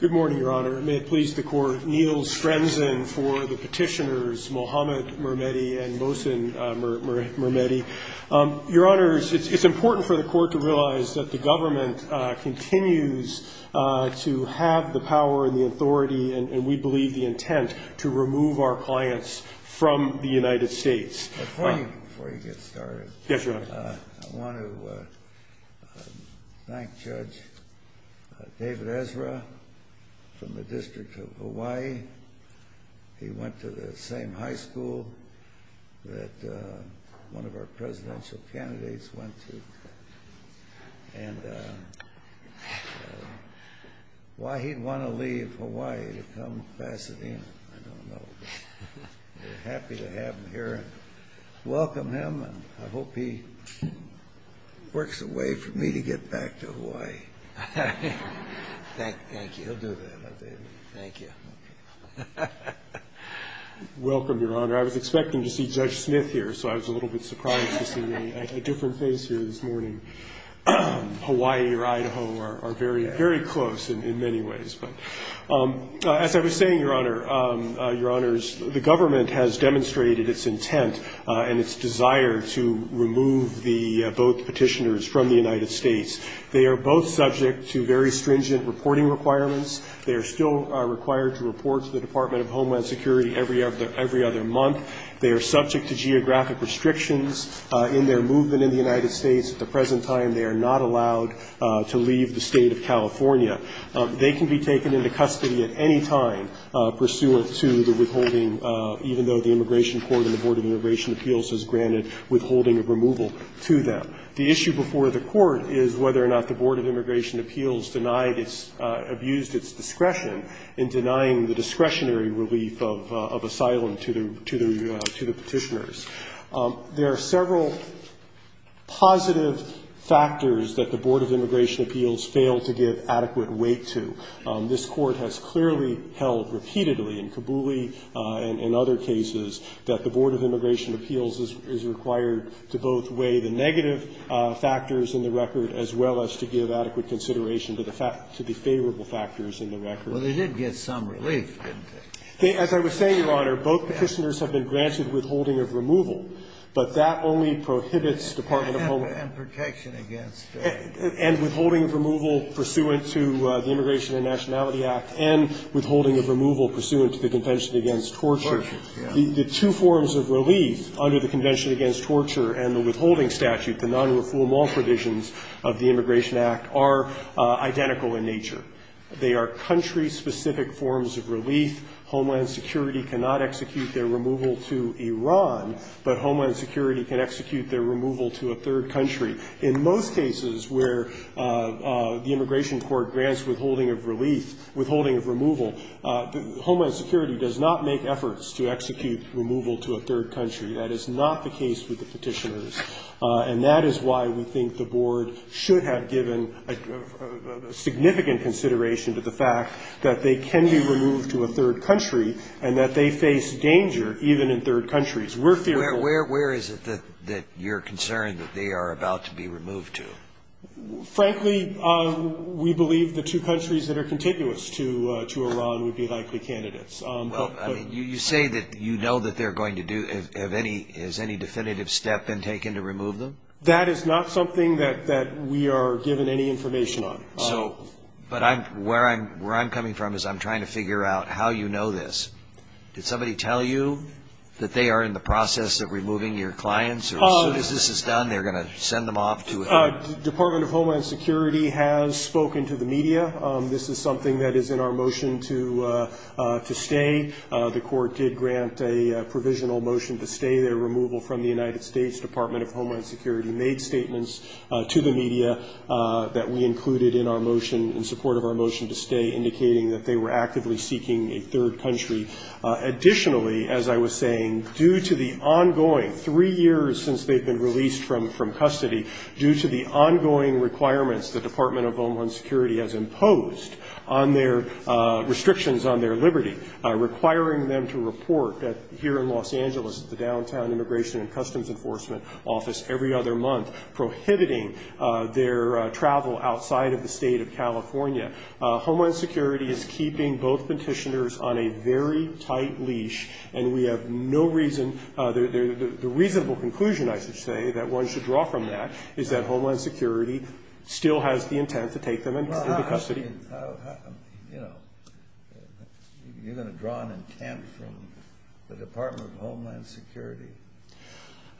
Good morning, Your Honor. May it please the Court, Neil Strenson for the petitioners, Mohamed Mermehdi and Mohsen Mermehdi. Your Honors, it's important for the Court to realize that the government continues to have the power and the authority, and we believe the intent, to remove our clients from the United States. Before you get started, I want to thank Judge David Ezra from the District of Hawaii. He went to the same high school that one of our presidential candidates went to. And why he'd want to leave Hawaii to come to Pasadena, I don't know. We're happy to have him here and welcome him, and I hope he works a way for me to get back to Hawaii. Thank you. He'll do that, I believe. Thank you. Welcome, Your Honor. I was expecting to see Judge Smith here, so I was a little bit surprised to see a different face here this morning. Hawaii or Idaho are very, very close in many ways. But as I was saying, Your Honor, Your Honors, the government has demonstrated its intent and its desire to remove the both petitioners from the United States. They are both subject to very stringent reporting requirements. They are still required to report to the Department of Homeland Security every other month. They are subject to geographic restrictions in their movement in the United States. At the present time, they are not allowed to leave the State of California. They can be taken into custody at any time pursuant to the withholding, even though the Immigration Court and the Board of Immigration Appeals has granted withholding of removal to them. The issue before the Court is whether or not the Board of Immigration Appeals denied its – abused its discretion in denying the discretionary relief of asylum to the petitioners. There are several positive factors that the Board of Immigration Appeals failed to give adequate weight to. This Court has clearly held repeatedly in Kabuli and other cases that the Board of Immigration in the record as well as to give adequate consideration to the favorable factors in the record. Well, they did get some relief, didn't they? As I was saying, Your Honor, both petitioners have been granted withholding of removal, but that only prohibits Department of Homeland Security. And protection against. And withholding of removal pursuant to the Immigration and Nationality Act and withholding of removal pursuant to the Convention against Torture. Torture, yes. The two forms of relief under the Convention against Torture and the withholding statute, the non-refoulement provisions of the Immigration Act, are identical in nature. They are country-specific forms of relief. Homeland Security cannot execute their removal to Iran, but Homeland Security can execute their removal to a third country. In most cases where the Immigration Court grants withholding of relief, withholding of removal, Homeland Security does not make efforts to execute removal to a third country. That is not the case with the petitioners. And that is why we think the Board should have given significant consideration to the fact that they can be removed to a third country and that they face danger even in third countries. We're fearful. Where is it that you're concerned that they are about to be removed to? Frankly, we believe the two countries that are contiguous to Iran would be likely candidates. Well, I mean, you say that you know that they're going to do, have any, has any definitive step been taken to remove them? That is not something that we are given any information on. So, but I'm, where I'm coming from is I'm trying to figure out how you know this. Did somebody tell you that they are in the process of removing your clients or as soon as this is done, they're going to send them off to a third country? Department of Homeland Security has spoken to the media. This is something that is in our motion to stay. The court did grant a provisional motion to stay their removal from the United States. Department of Homeland Security made statements to the media that we included in our motion, in support of our motion to stay, indicating that they were actively seeking a third country. Additionally, as I was saying, due to the ongoing, three years since they've been released from custody, due to the ongoing requirements the Department of Homeland Security has imposed on their restrictions on their liberty, requiring them to report here in Los Angeles to the Downtown Immigration and Customs Enforcement Office every other month, prohibiting their travel outside of the state of California. Homeland Security is keeping both petitioners on a very tight leash, and we have no reason, the reasonable conclusion, I should say, that one should draw from that is that Homeland Security still has the intent to take them into custody. You're going to draw an intent from the Department of Homeland Security.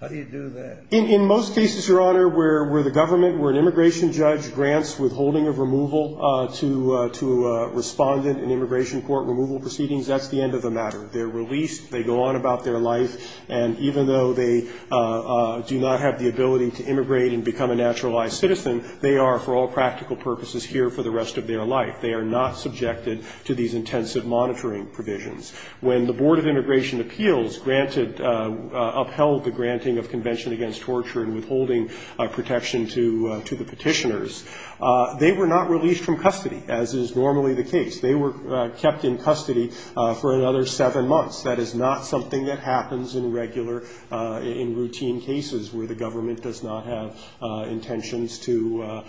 How do you do that? In most cases, Your Honor, where the government, where an immigration judge grants withholding of removal to a respondent in immigration court removal proceedings, that's the end of the matter. They're released. They go on about their life. And even though they do not have the ability to immigrate and become a naturalized citizen, they are, for all practical purposes, here for the rest of their life. They are not subjected to these intensive monitoring provisions. When the Board of Immigration Appeals granted, upheld the granting of convention against torture and withholding protection to the petitioners, they were not released from custody, as is normally the case. They were kept in custody for another seven months. That is not something that happens in regular, in routine cases, where the government does not have intentions to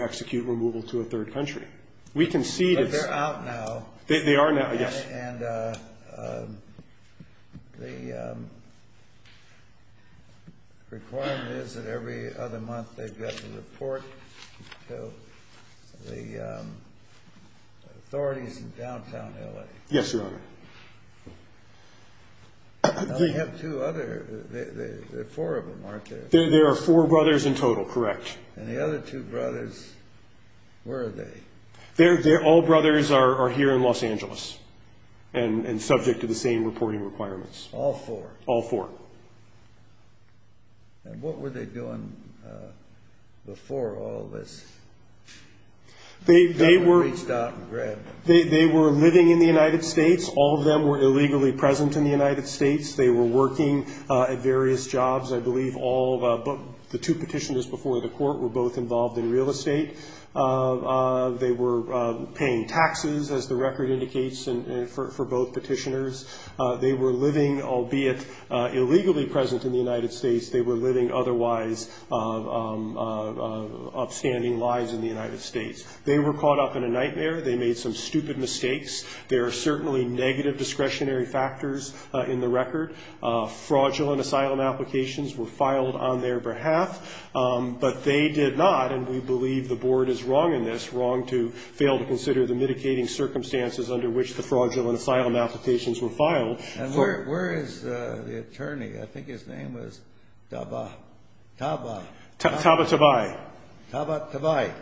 execute removal to a third country. We concede it's… But they're out now. They are now, yes. And the requirement is that every other month they get a report to the authorities in downtown L.A.? Yes, Your Honor. Now they have two other. There are four of them, aren't there? There are four brothers in total, correct. And the other two brothers, where are they? All brothers are here in Los Angeles and subject to the same reporting requirements. All four? All four. And what were they doing before all this? They were living in the United States. All of them were illegally present in the United States. They were working at various jobs. The two petitioners before the court were both involved in real estate. They were paying taxes, as the record indicates, for both petitioners. They were living, albeit illegally present in the United States, they were living otherwise upstanding lives in the United States. They were caught up in a nightmare. They made some stupid mistakes. There are certainly negative discretionary factors in the record. Fraudulent asylum applications were filed on their behalf, but they did not, and we believe the board is wrong in this, wrong to fail to consider the mitigating circumstances under which the fraudulent asylum applications were filed. And where is the attorney? I think his name was Taba. Taba. Taba Tabai. Taba Tabai.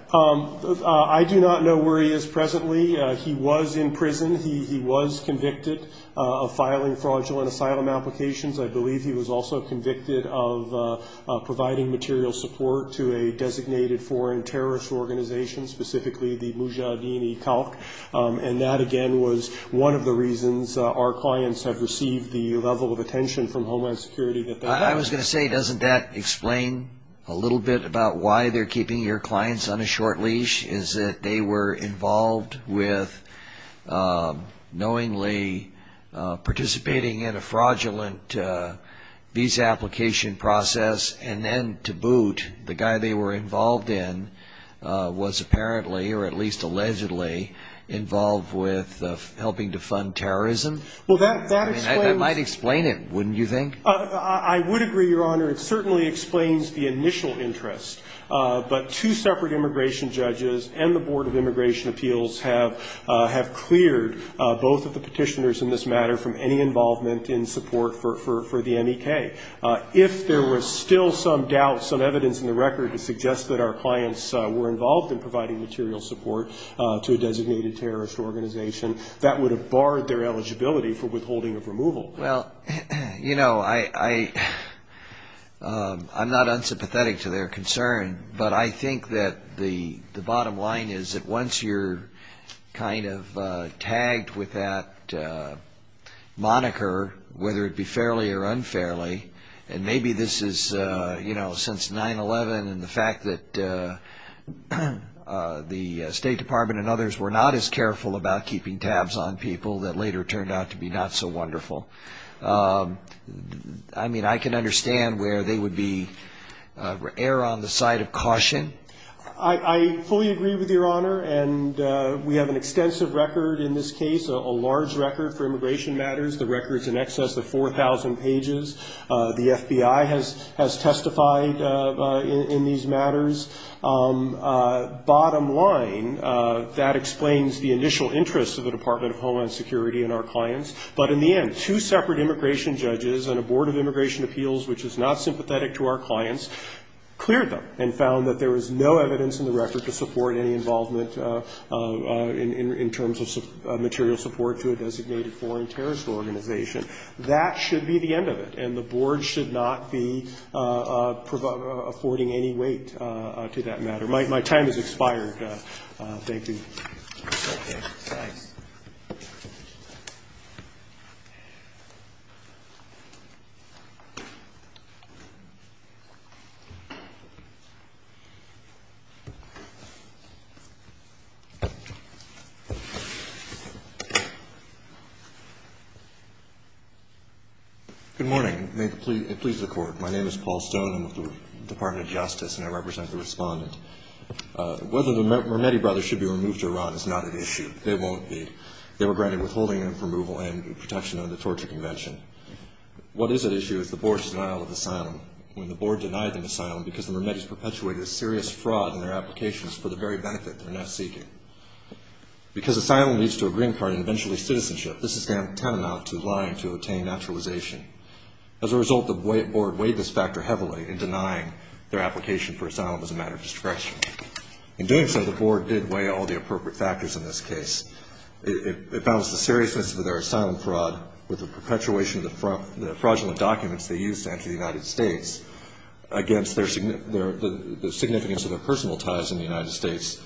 I do not know where he is presently. He was in prison. He was convicted of filing fraudulent asylum applications. I believe he was also convicted of providing material support to a designated foreign terrorist organization, specifically the Mujahideen-e-Khalq. And that, again, was one of the reasons our clients have received the level of attention from Homeland Security. I was going to say, doesn't that explain a little bit about why they're keeping your clients on a short leash, is that they were involved with knowingly participating in a fraudulent visa application process, and then, to boot, the guy they were involved in was apparently, or at least allegedly involved with helping to fund terrorism? Well, that explains. I mean, that might explain it, wouldn't you think? I would agree, Your Honor. It certainly explains the initial interest. But two separate immigration judges and the Board of Immigration Appeals have cleared both of the petitioners in this matter from any involvement in support for the M.E.K. If there was still some doubt, some evidence in the record, to suggest that our clients were involved in providing material support to a designated terrorist organization, that would have barred their eligibility for withholding of removal. Well, you know, I'm not unsympathetic to their concern, but I think that the bottom line is that once you're kind of tagged with that moniker, whether it be fairly or unfairly, and maybe this is since 9-11 and the fact that the State Department and others were not as careful about keeping tabs on people that later turned out to be not so wonderful, I mean, I can understand where they would err on the side of caution. I fully agree with Your Honor, and we have an extensive record in this case, a large record for immigration matters, the record's in excess of 4,000 pages. The FBI has testified in these matters. Bottom line, that explains the initial interest of the Department of Homeland Security and our clients, but in the end, two separate immigration judges and a board of immigration appeals which is not sympathetic to our clients cleared them and found that there was no evidence in the record to support any involvement in terms of material support to a designated foreign terrorist organization. That should be the end of it, and the board should not be affording any weight to that matter. My time has expired. Thank you. Thank you. Thanks. Good morning. May it please the Court, my name is Paul Stone. I'm with the Department of Justice, and I represent the Respondent. Whether the Mermetti brothers should be removed to Iran is not an issue. They won't be. They were granted withholding and removal and protection under the Torture Convention. What is at issue is the board's denial of asylum. When the board denied them asylum because the Mermetti's perpetuated a serious fraud in their applications for the very benefit they're now seeking. Because asylum leads to a green card and eventually citizenship, this is tantamount to lying to obtain naturalization. As a result, the board weighed this factor heavily in denying their application for asylum as a matter of discretion. In doing so, the board did weigh all the appropriate factors in this case. It balanced the seriousness of their asylum fraud with the perpetuation of the fraudulent documents they used to enter the United States against the significance of their personal ties in the United States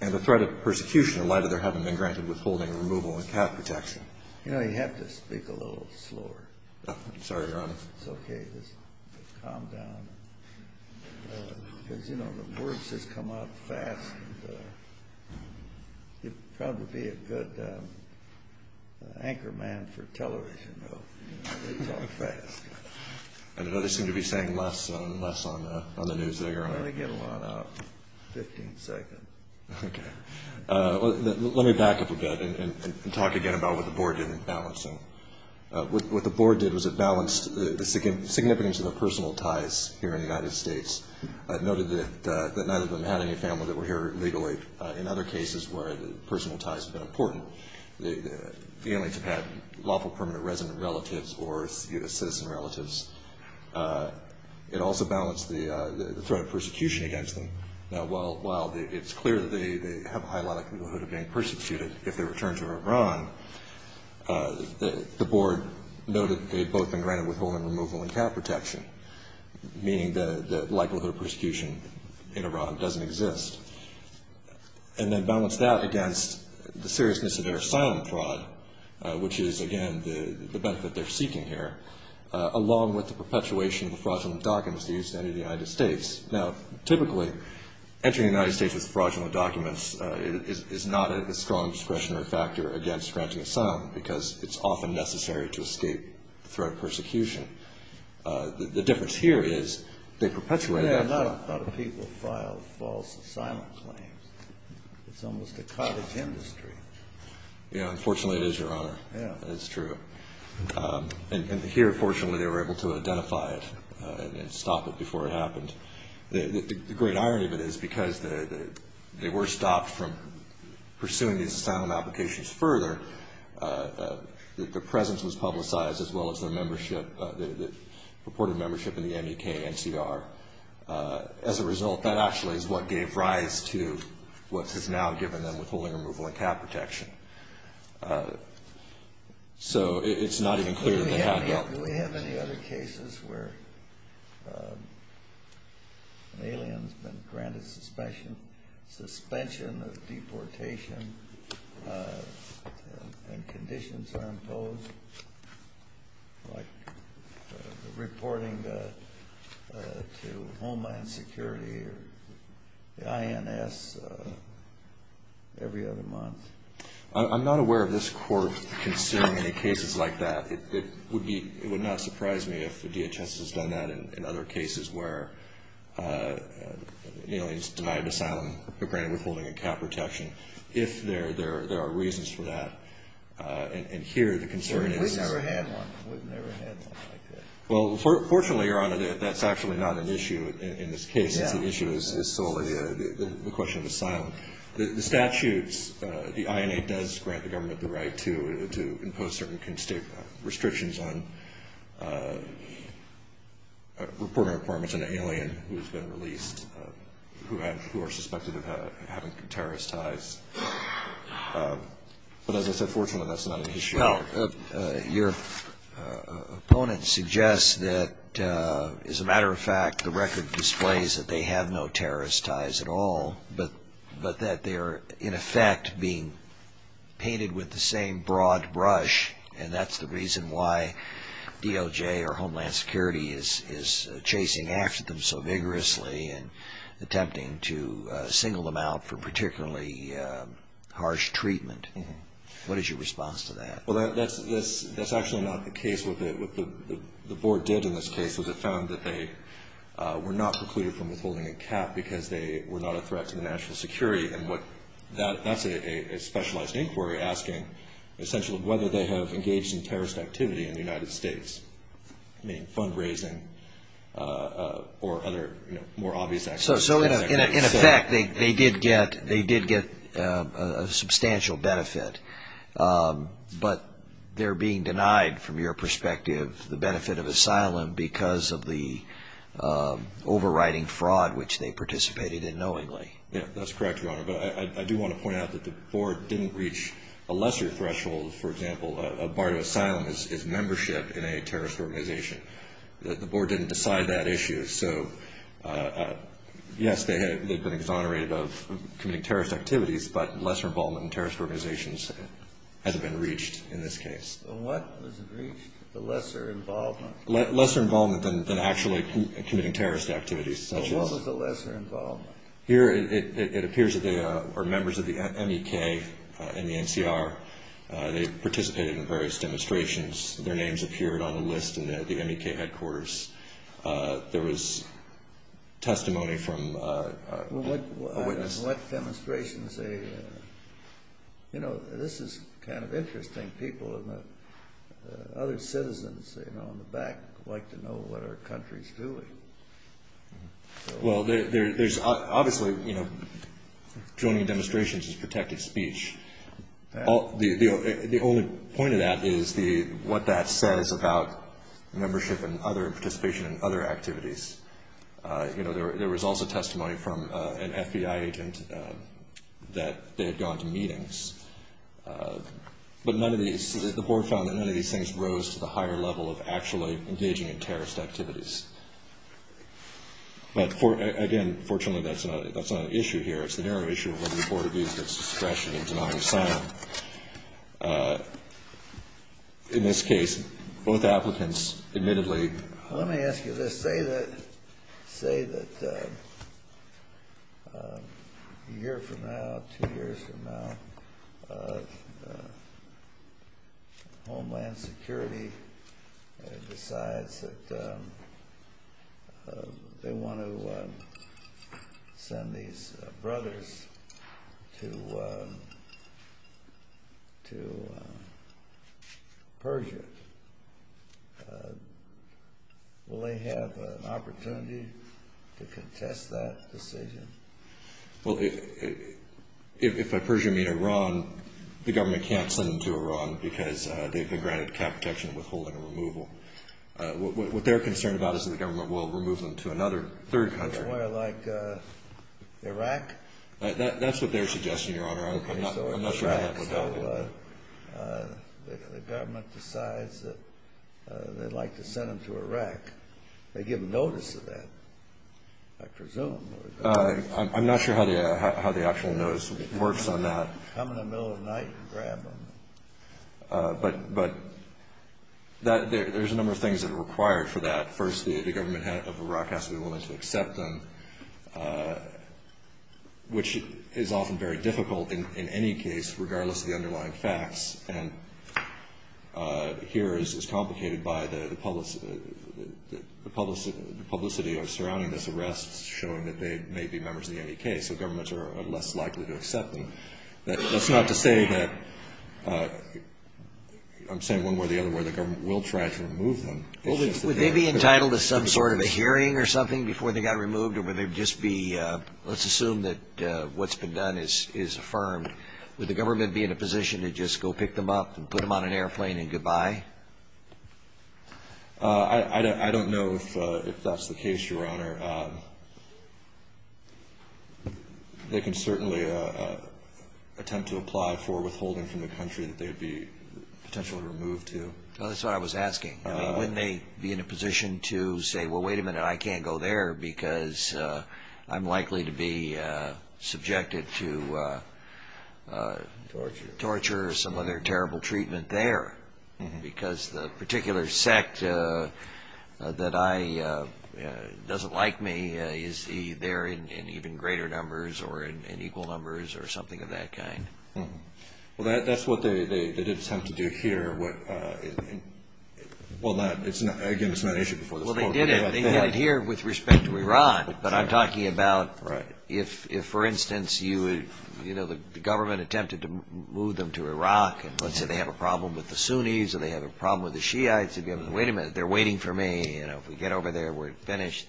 and the threat of persecution in light of their having been granted withholding, removal, and cap protection. You know, you have to speak a little slower. I'm sorry, Your Honor. It's okay. Just calm down. Because, you know, the words just come out fast. You'd probably be a good anchorman for television, though. It's all fast. I know they seem to be saying less and less on the news there, Your Honor. Well, they get a lot out in 15 seconds. Okay. Let me back up a bit and talk again about what the board did in balancing. What the board did was it balanced the significance of their personal ties here in the United States. It noted that neither of them had any family that were here illegally. In other cases where personal ties have been important, the families have had lawful permanent resident relatives or citizen relatives. It also balanced the threat of persecution against them. Now, while it's clear that they have a high level of likelihood of being persecuted if they return to Iran, the board noted they had both been granted withholding, removal, and cap protection, meaning the likelihood of persecution in Iran doesn't exist. And then balanced that against the seriousness of their asylum fraud, which is, again, the benefit they're seeking here, along with the perpetuation of the fraudulent documents they used to enter the United States. Now, typically, entering the United States with fraudulent documents is not a strong discretionary factor against granting asylum because it's often necessary to escape the threat of persecution. The difference here is they perpetuated that fraud. Yeah, a lot of people filed false asylum claims. It's almost a cottage industry. Yeah, unfortunately it is, Your Honor. Yeah. It's true. And here, fortunately, they were able to identify it and stop it before it happened. The great irony of it is because they were stopped from pursuing these asylum applications further, the presence was publicized as well as the membership, the purported membership in the MEK NCR. As a result, that actually is what gave rise to what has now given them withholding, removal, and cap protection. So it's not even clear what happened. Do we have any other cases where an alien has been granted suspension, suspension of deportation, and conditions are imposed, like reporting to Homeland Security or the INS every other month? I'm not aware of this Court considering any cases like that. It would not surprise me if the DHS has done that in other cases where an alien is denied asylum or granted withholding and cap protection, if there are reasons for that. And here, the concern is— We've never had one. We've never had one like that. Well, fortunately, Your Honor, that's actually not an issue in this case. It's an issue that is solely a question of asylum. The statutes, the INA does grant the government the right to impose certain restrictions on reporting to an alien who has been released, who are suspected of having terrorist ties. But as I said, fortunately, that's not an issue. Well, your opponent suggests that, as a matter of fact, the record displays that they have no terrorist ties at all, but that they are, in effect, being painted with the same broad brush, and that's the reason why DOJ or Homeland Security is chasing after them so vigorously and attempting to single them out for particularly harsh treatment. What is your response to that? Well, that's actually not the case. What the Board did in this case was it found that they were not precluded from withholding a cap because they were not a threat to the national security. And that's a specialized inquiry asking, essentially, whether they have engaged in terrorist activity in the United States, I mean, fundraising or other more obvious activities. So, in effect, they did get a substantial benefit, but they're being denied, from your perspective, the benefit of asylum because of the overriding fraud which they participated in knowingly. Yeah, that's correct, Your Honor. But I do want to point out that the Board didn't reach a lesser threshold. For example, a bar to asylum is membership in a terrorist organization. The Board didn't decide that issue. So, yes, they've been exonerated of committing terrorist activities, but lesser involvement in terrorist organizations hasn't been reached in this case. What was reached? The lesser involvement? Lesser involvement than actually committing terrorist activities. What was the lesser involvement? Here, it appears that they are members of the MEK and the NCR. They participated in various demonstrations. Their names appeared on the list in the MEK headquarters. There was testimony from a witness. What demonstrations? You know, this is kind of interesting. People and other citizens on the back like to know what our country's doing. Well, there's obviously, you know, joining demonstrations is protected speech. The only point of that is what that says about membership and other participation in other activities. You know, there was also testimony from an FBI agent that they had gone to meetings. But none of these, the Board found that none of these things rose to the higher level of actually engaging in terrorist activities. But, again, fortunately, that's not an issue here. It's the narrow issue of whether the Board of Views gets discretion in denying asylum. In this case, both applicants admittedly. Let me ask you this. Say that a year from now, two years from now, Homeland Security decides that they want to send these brothers to Persia. Will they have an opportunity to contest that decision? Well, if by Persia, you mean Iran, the government can't send them to Iran because they've been granted cap protection withholding removal. What they're concerned about is that the government will remove them to another third country. Somewhere like Iraq? That's what they're suggesting, Your Honor. I'm not sure how that would happen. The government decides that they'd like to send them to Iraq. They give them notice of that, I presume. I'm not sure how the actual notice works on that. Come in the middle of the night and grab them. But there's a number of things that are required for that. First, the government of Iraq has to be willing to accept them, which is often very difficult in any case regardless of the underlying facts. And here it's complicated by the publicity surrounding this arrest showing that they may be members of the NEK. So governments are less likely to accept them. That's not to say that the government will try to remove them. Would they be entitled to some sort of a hearing or something before they got removed? Or would they just be, let's assume that what's been done is affirmed, would the government be in a position to just go pick them up and put them on an airplane and goodbye? I don't know if that's the case, Your Honor. They can certainly attempt to apply for withholding from the country that they'd be potentially removed to. That's what I was asking. Wouldn't they be in a position to say, well, wait a minute, I can't go there because I'm likely to be subjected to torture or some other terrible treatment there because the particular sect that doesn't like me is there in even greater numbers or in equal numbers or something of that kind? Well, that's what they did attempt to do here. Again, it's not an issue before this court. Well, they did it here with respect to Iran. But I'm talking about if, for instance, the government attempted to move them to Iraq and let's say they have a problem with the Sunnis or they have a problem with the Shiites, they'd be able to say, wait a minute, they're waiting for me. If we get over there, we're finished.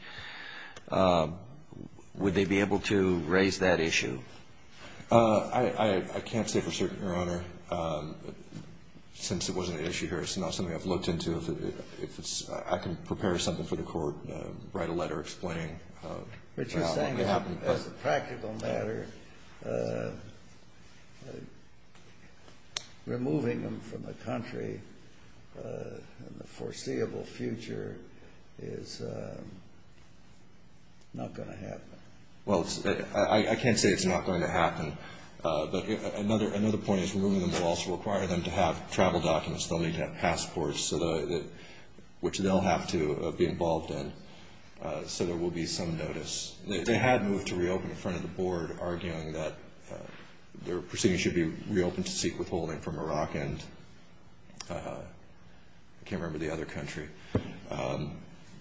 Would they be able to raise that issue? I can't say for certain, Your Honor, since it wasn't an issue here. It's not something I've looked into. I can prepare something for the court, write a letter explaining what could happen. As a practical matter, removing them from the country in the foreseeable future is not going to happen. Well, I can't say it's not going to happen. But another point is removing them will also require them to have travel documents. They'll need to have passports, which they'll have to be involved in. So there will be some notice. They had moved to reopen in front of the board, arguing that their proceedings should be reopened to seek withholding from Iraq and I can't remember the other country.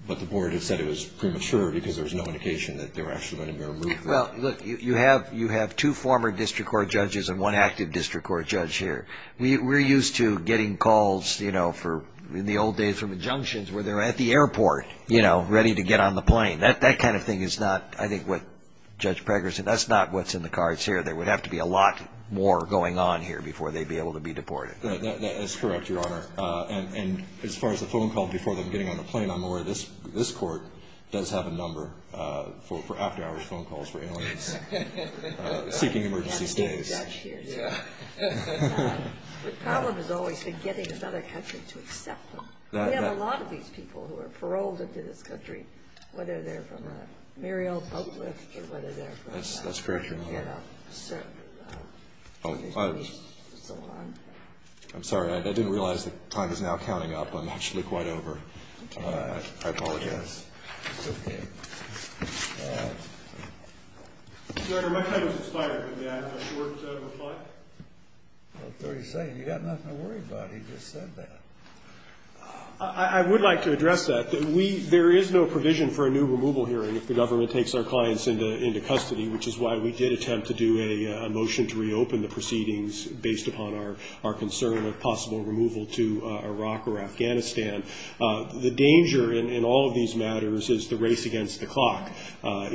But the board had said it was premature because there was no indication that they were actually going to be removed. Well, look, you have two former district court judges and one active district court judge here. We're used to getting calls in the old days from injunctions where they're at the airport, ready to get on the plane. That kind of thing is not, I think, what Judge Pregger said. That's not what's in the cards here. There would have to be a lot more going on here before they'd be able to be deported. That is correct, Your Honor. And as far as the phone call before them getting on the plane, I'm aware this court does have a number for after-hours phone calls for aliens seeking emergency stays. The problem has always been getting another country to accept them. We have a lot of these people who are paroled into this country, whether they're from a merry old public or whether they're from a family. That's very true, Your Honor. I'm sorry. I didn't realize the time is now counting up. I'm actually quite over. I apologize. It's okay. Your Honor, my time is expired. May I have a short reply? About 30 seconds. You've got nothing to worry about. He just said that. I would like to address that. There is no provision for a new removal hearing if the government takes our clients into custody, which is why we did attempt to do a motion to reopen the proceedings based upon our concern of possible removal to Iraq or Afghanistan.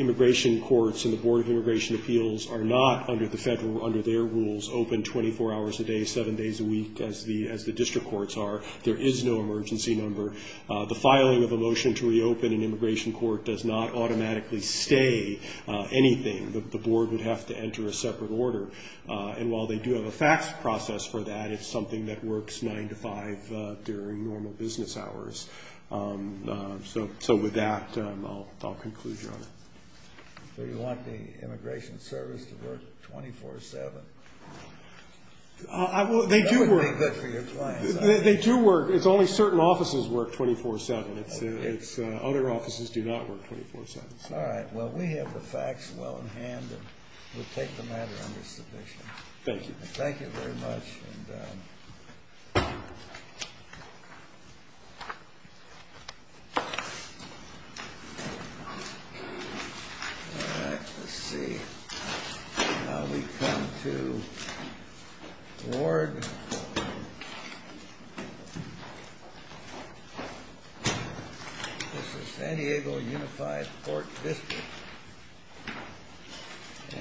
Immigration courts and the Board of Immigration Appeals are not, under their rules, open 24 hours a day, seven days a week, as the district courts are. There is no emergency number. The filing of a motion to reopen an immigration court does not automatically stay anything. The board would have to enter a separate order. And while they do have a fax process for that, it's something that works nine to five during normal business hours. So with that, I'll conclude, Your Honor. Do you want the Immigration Service to work 24-7? They do work. That would be good for your clients. They do work. It's only certain offices work 24-7. Other offices do not work 24-7. All right. Well, we have the facts well in hand, and we'll take the matter under submission. Thank you. Thank you very much. All right. Let's see. Now we come to Ward versus San Diego Unified Court District.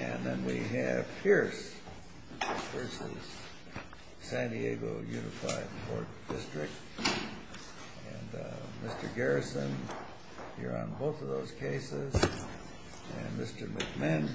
And then we have Pierce versus San Diego Unified Court District. And Mr. Garrison, you're on both of those cases. And Mr. McMinn.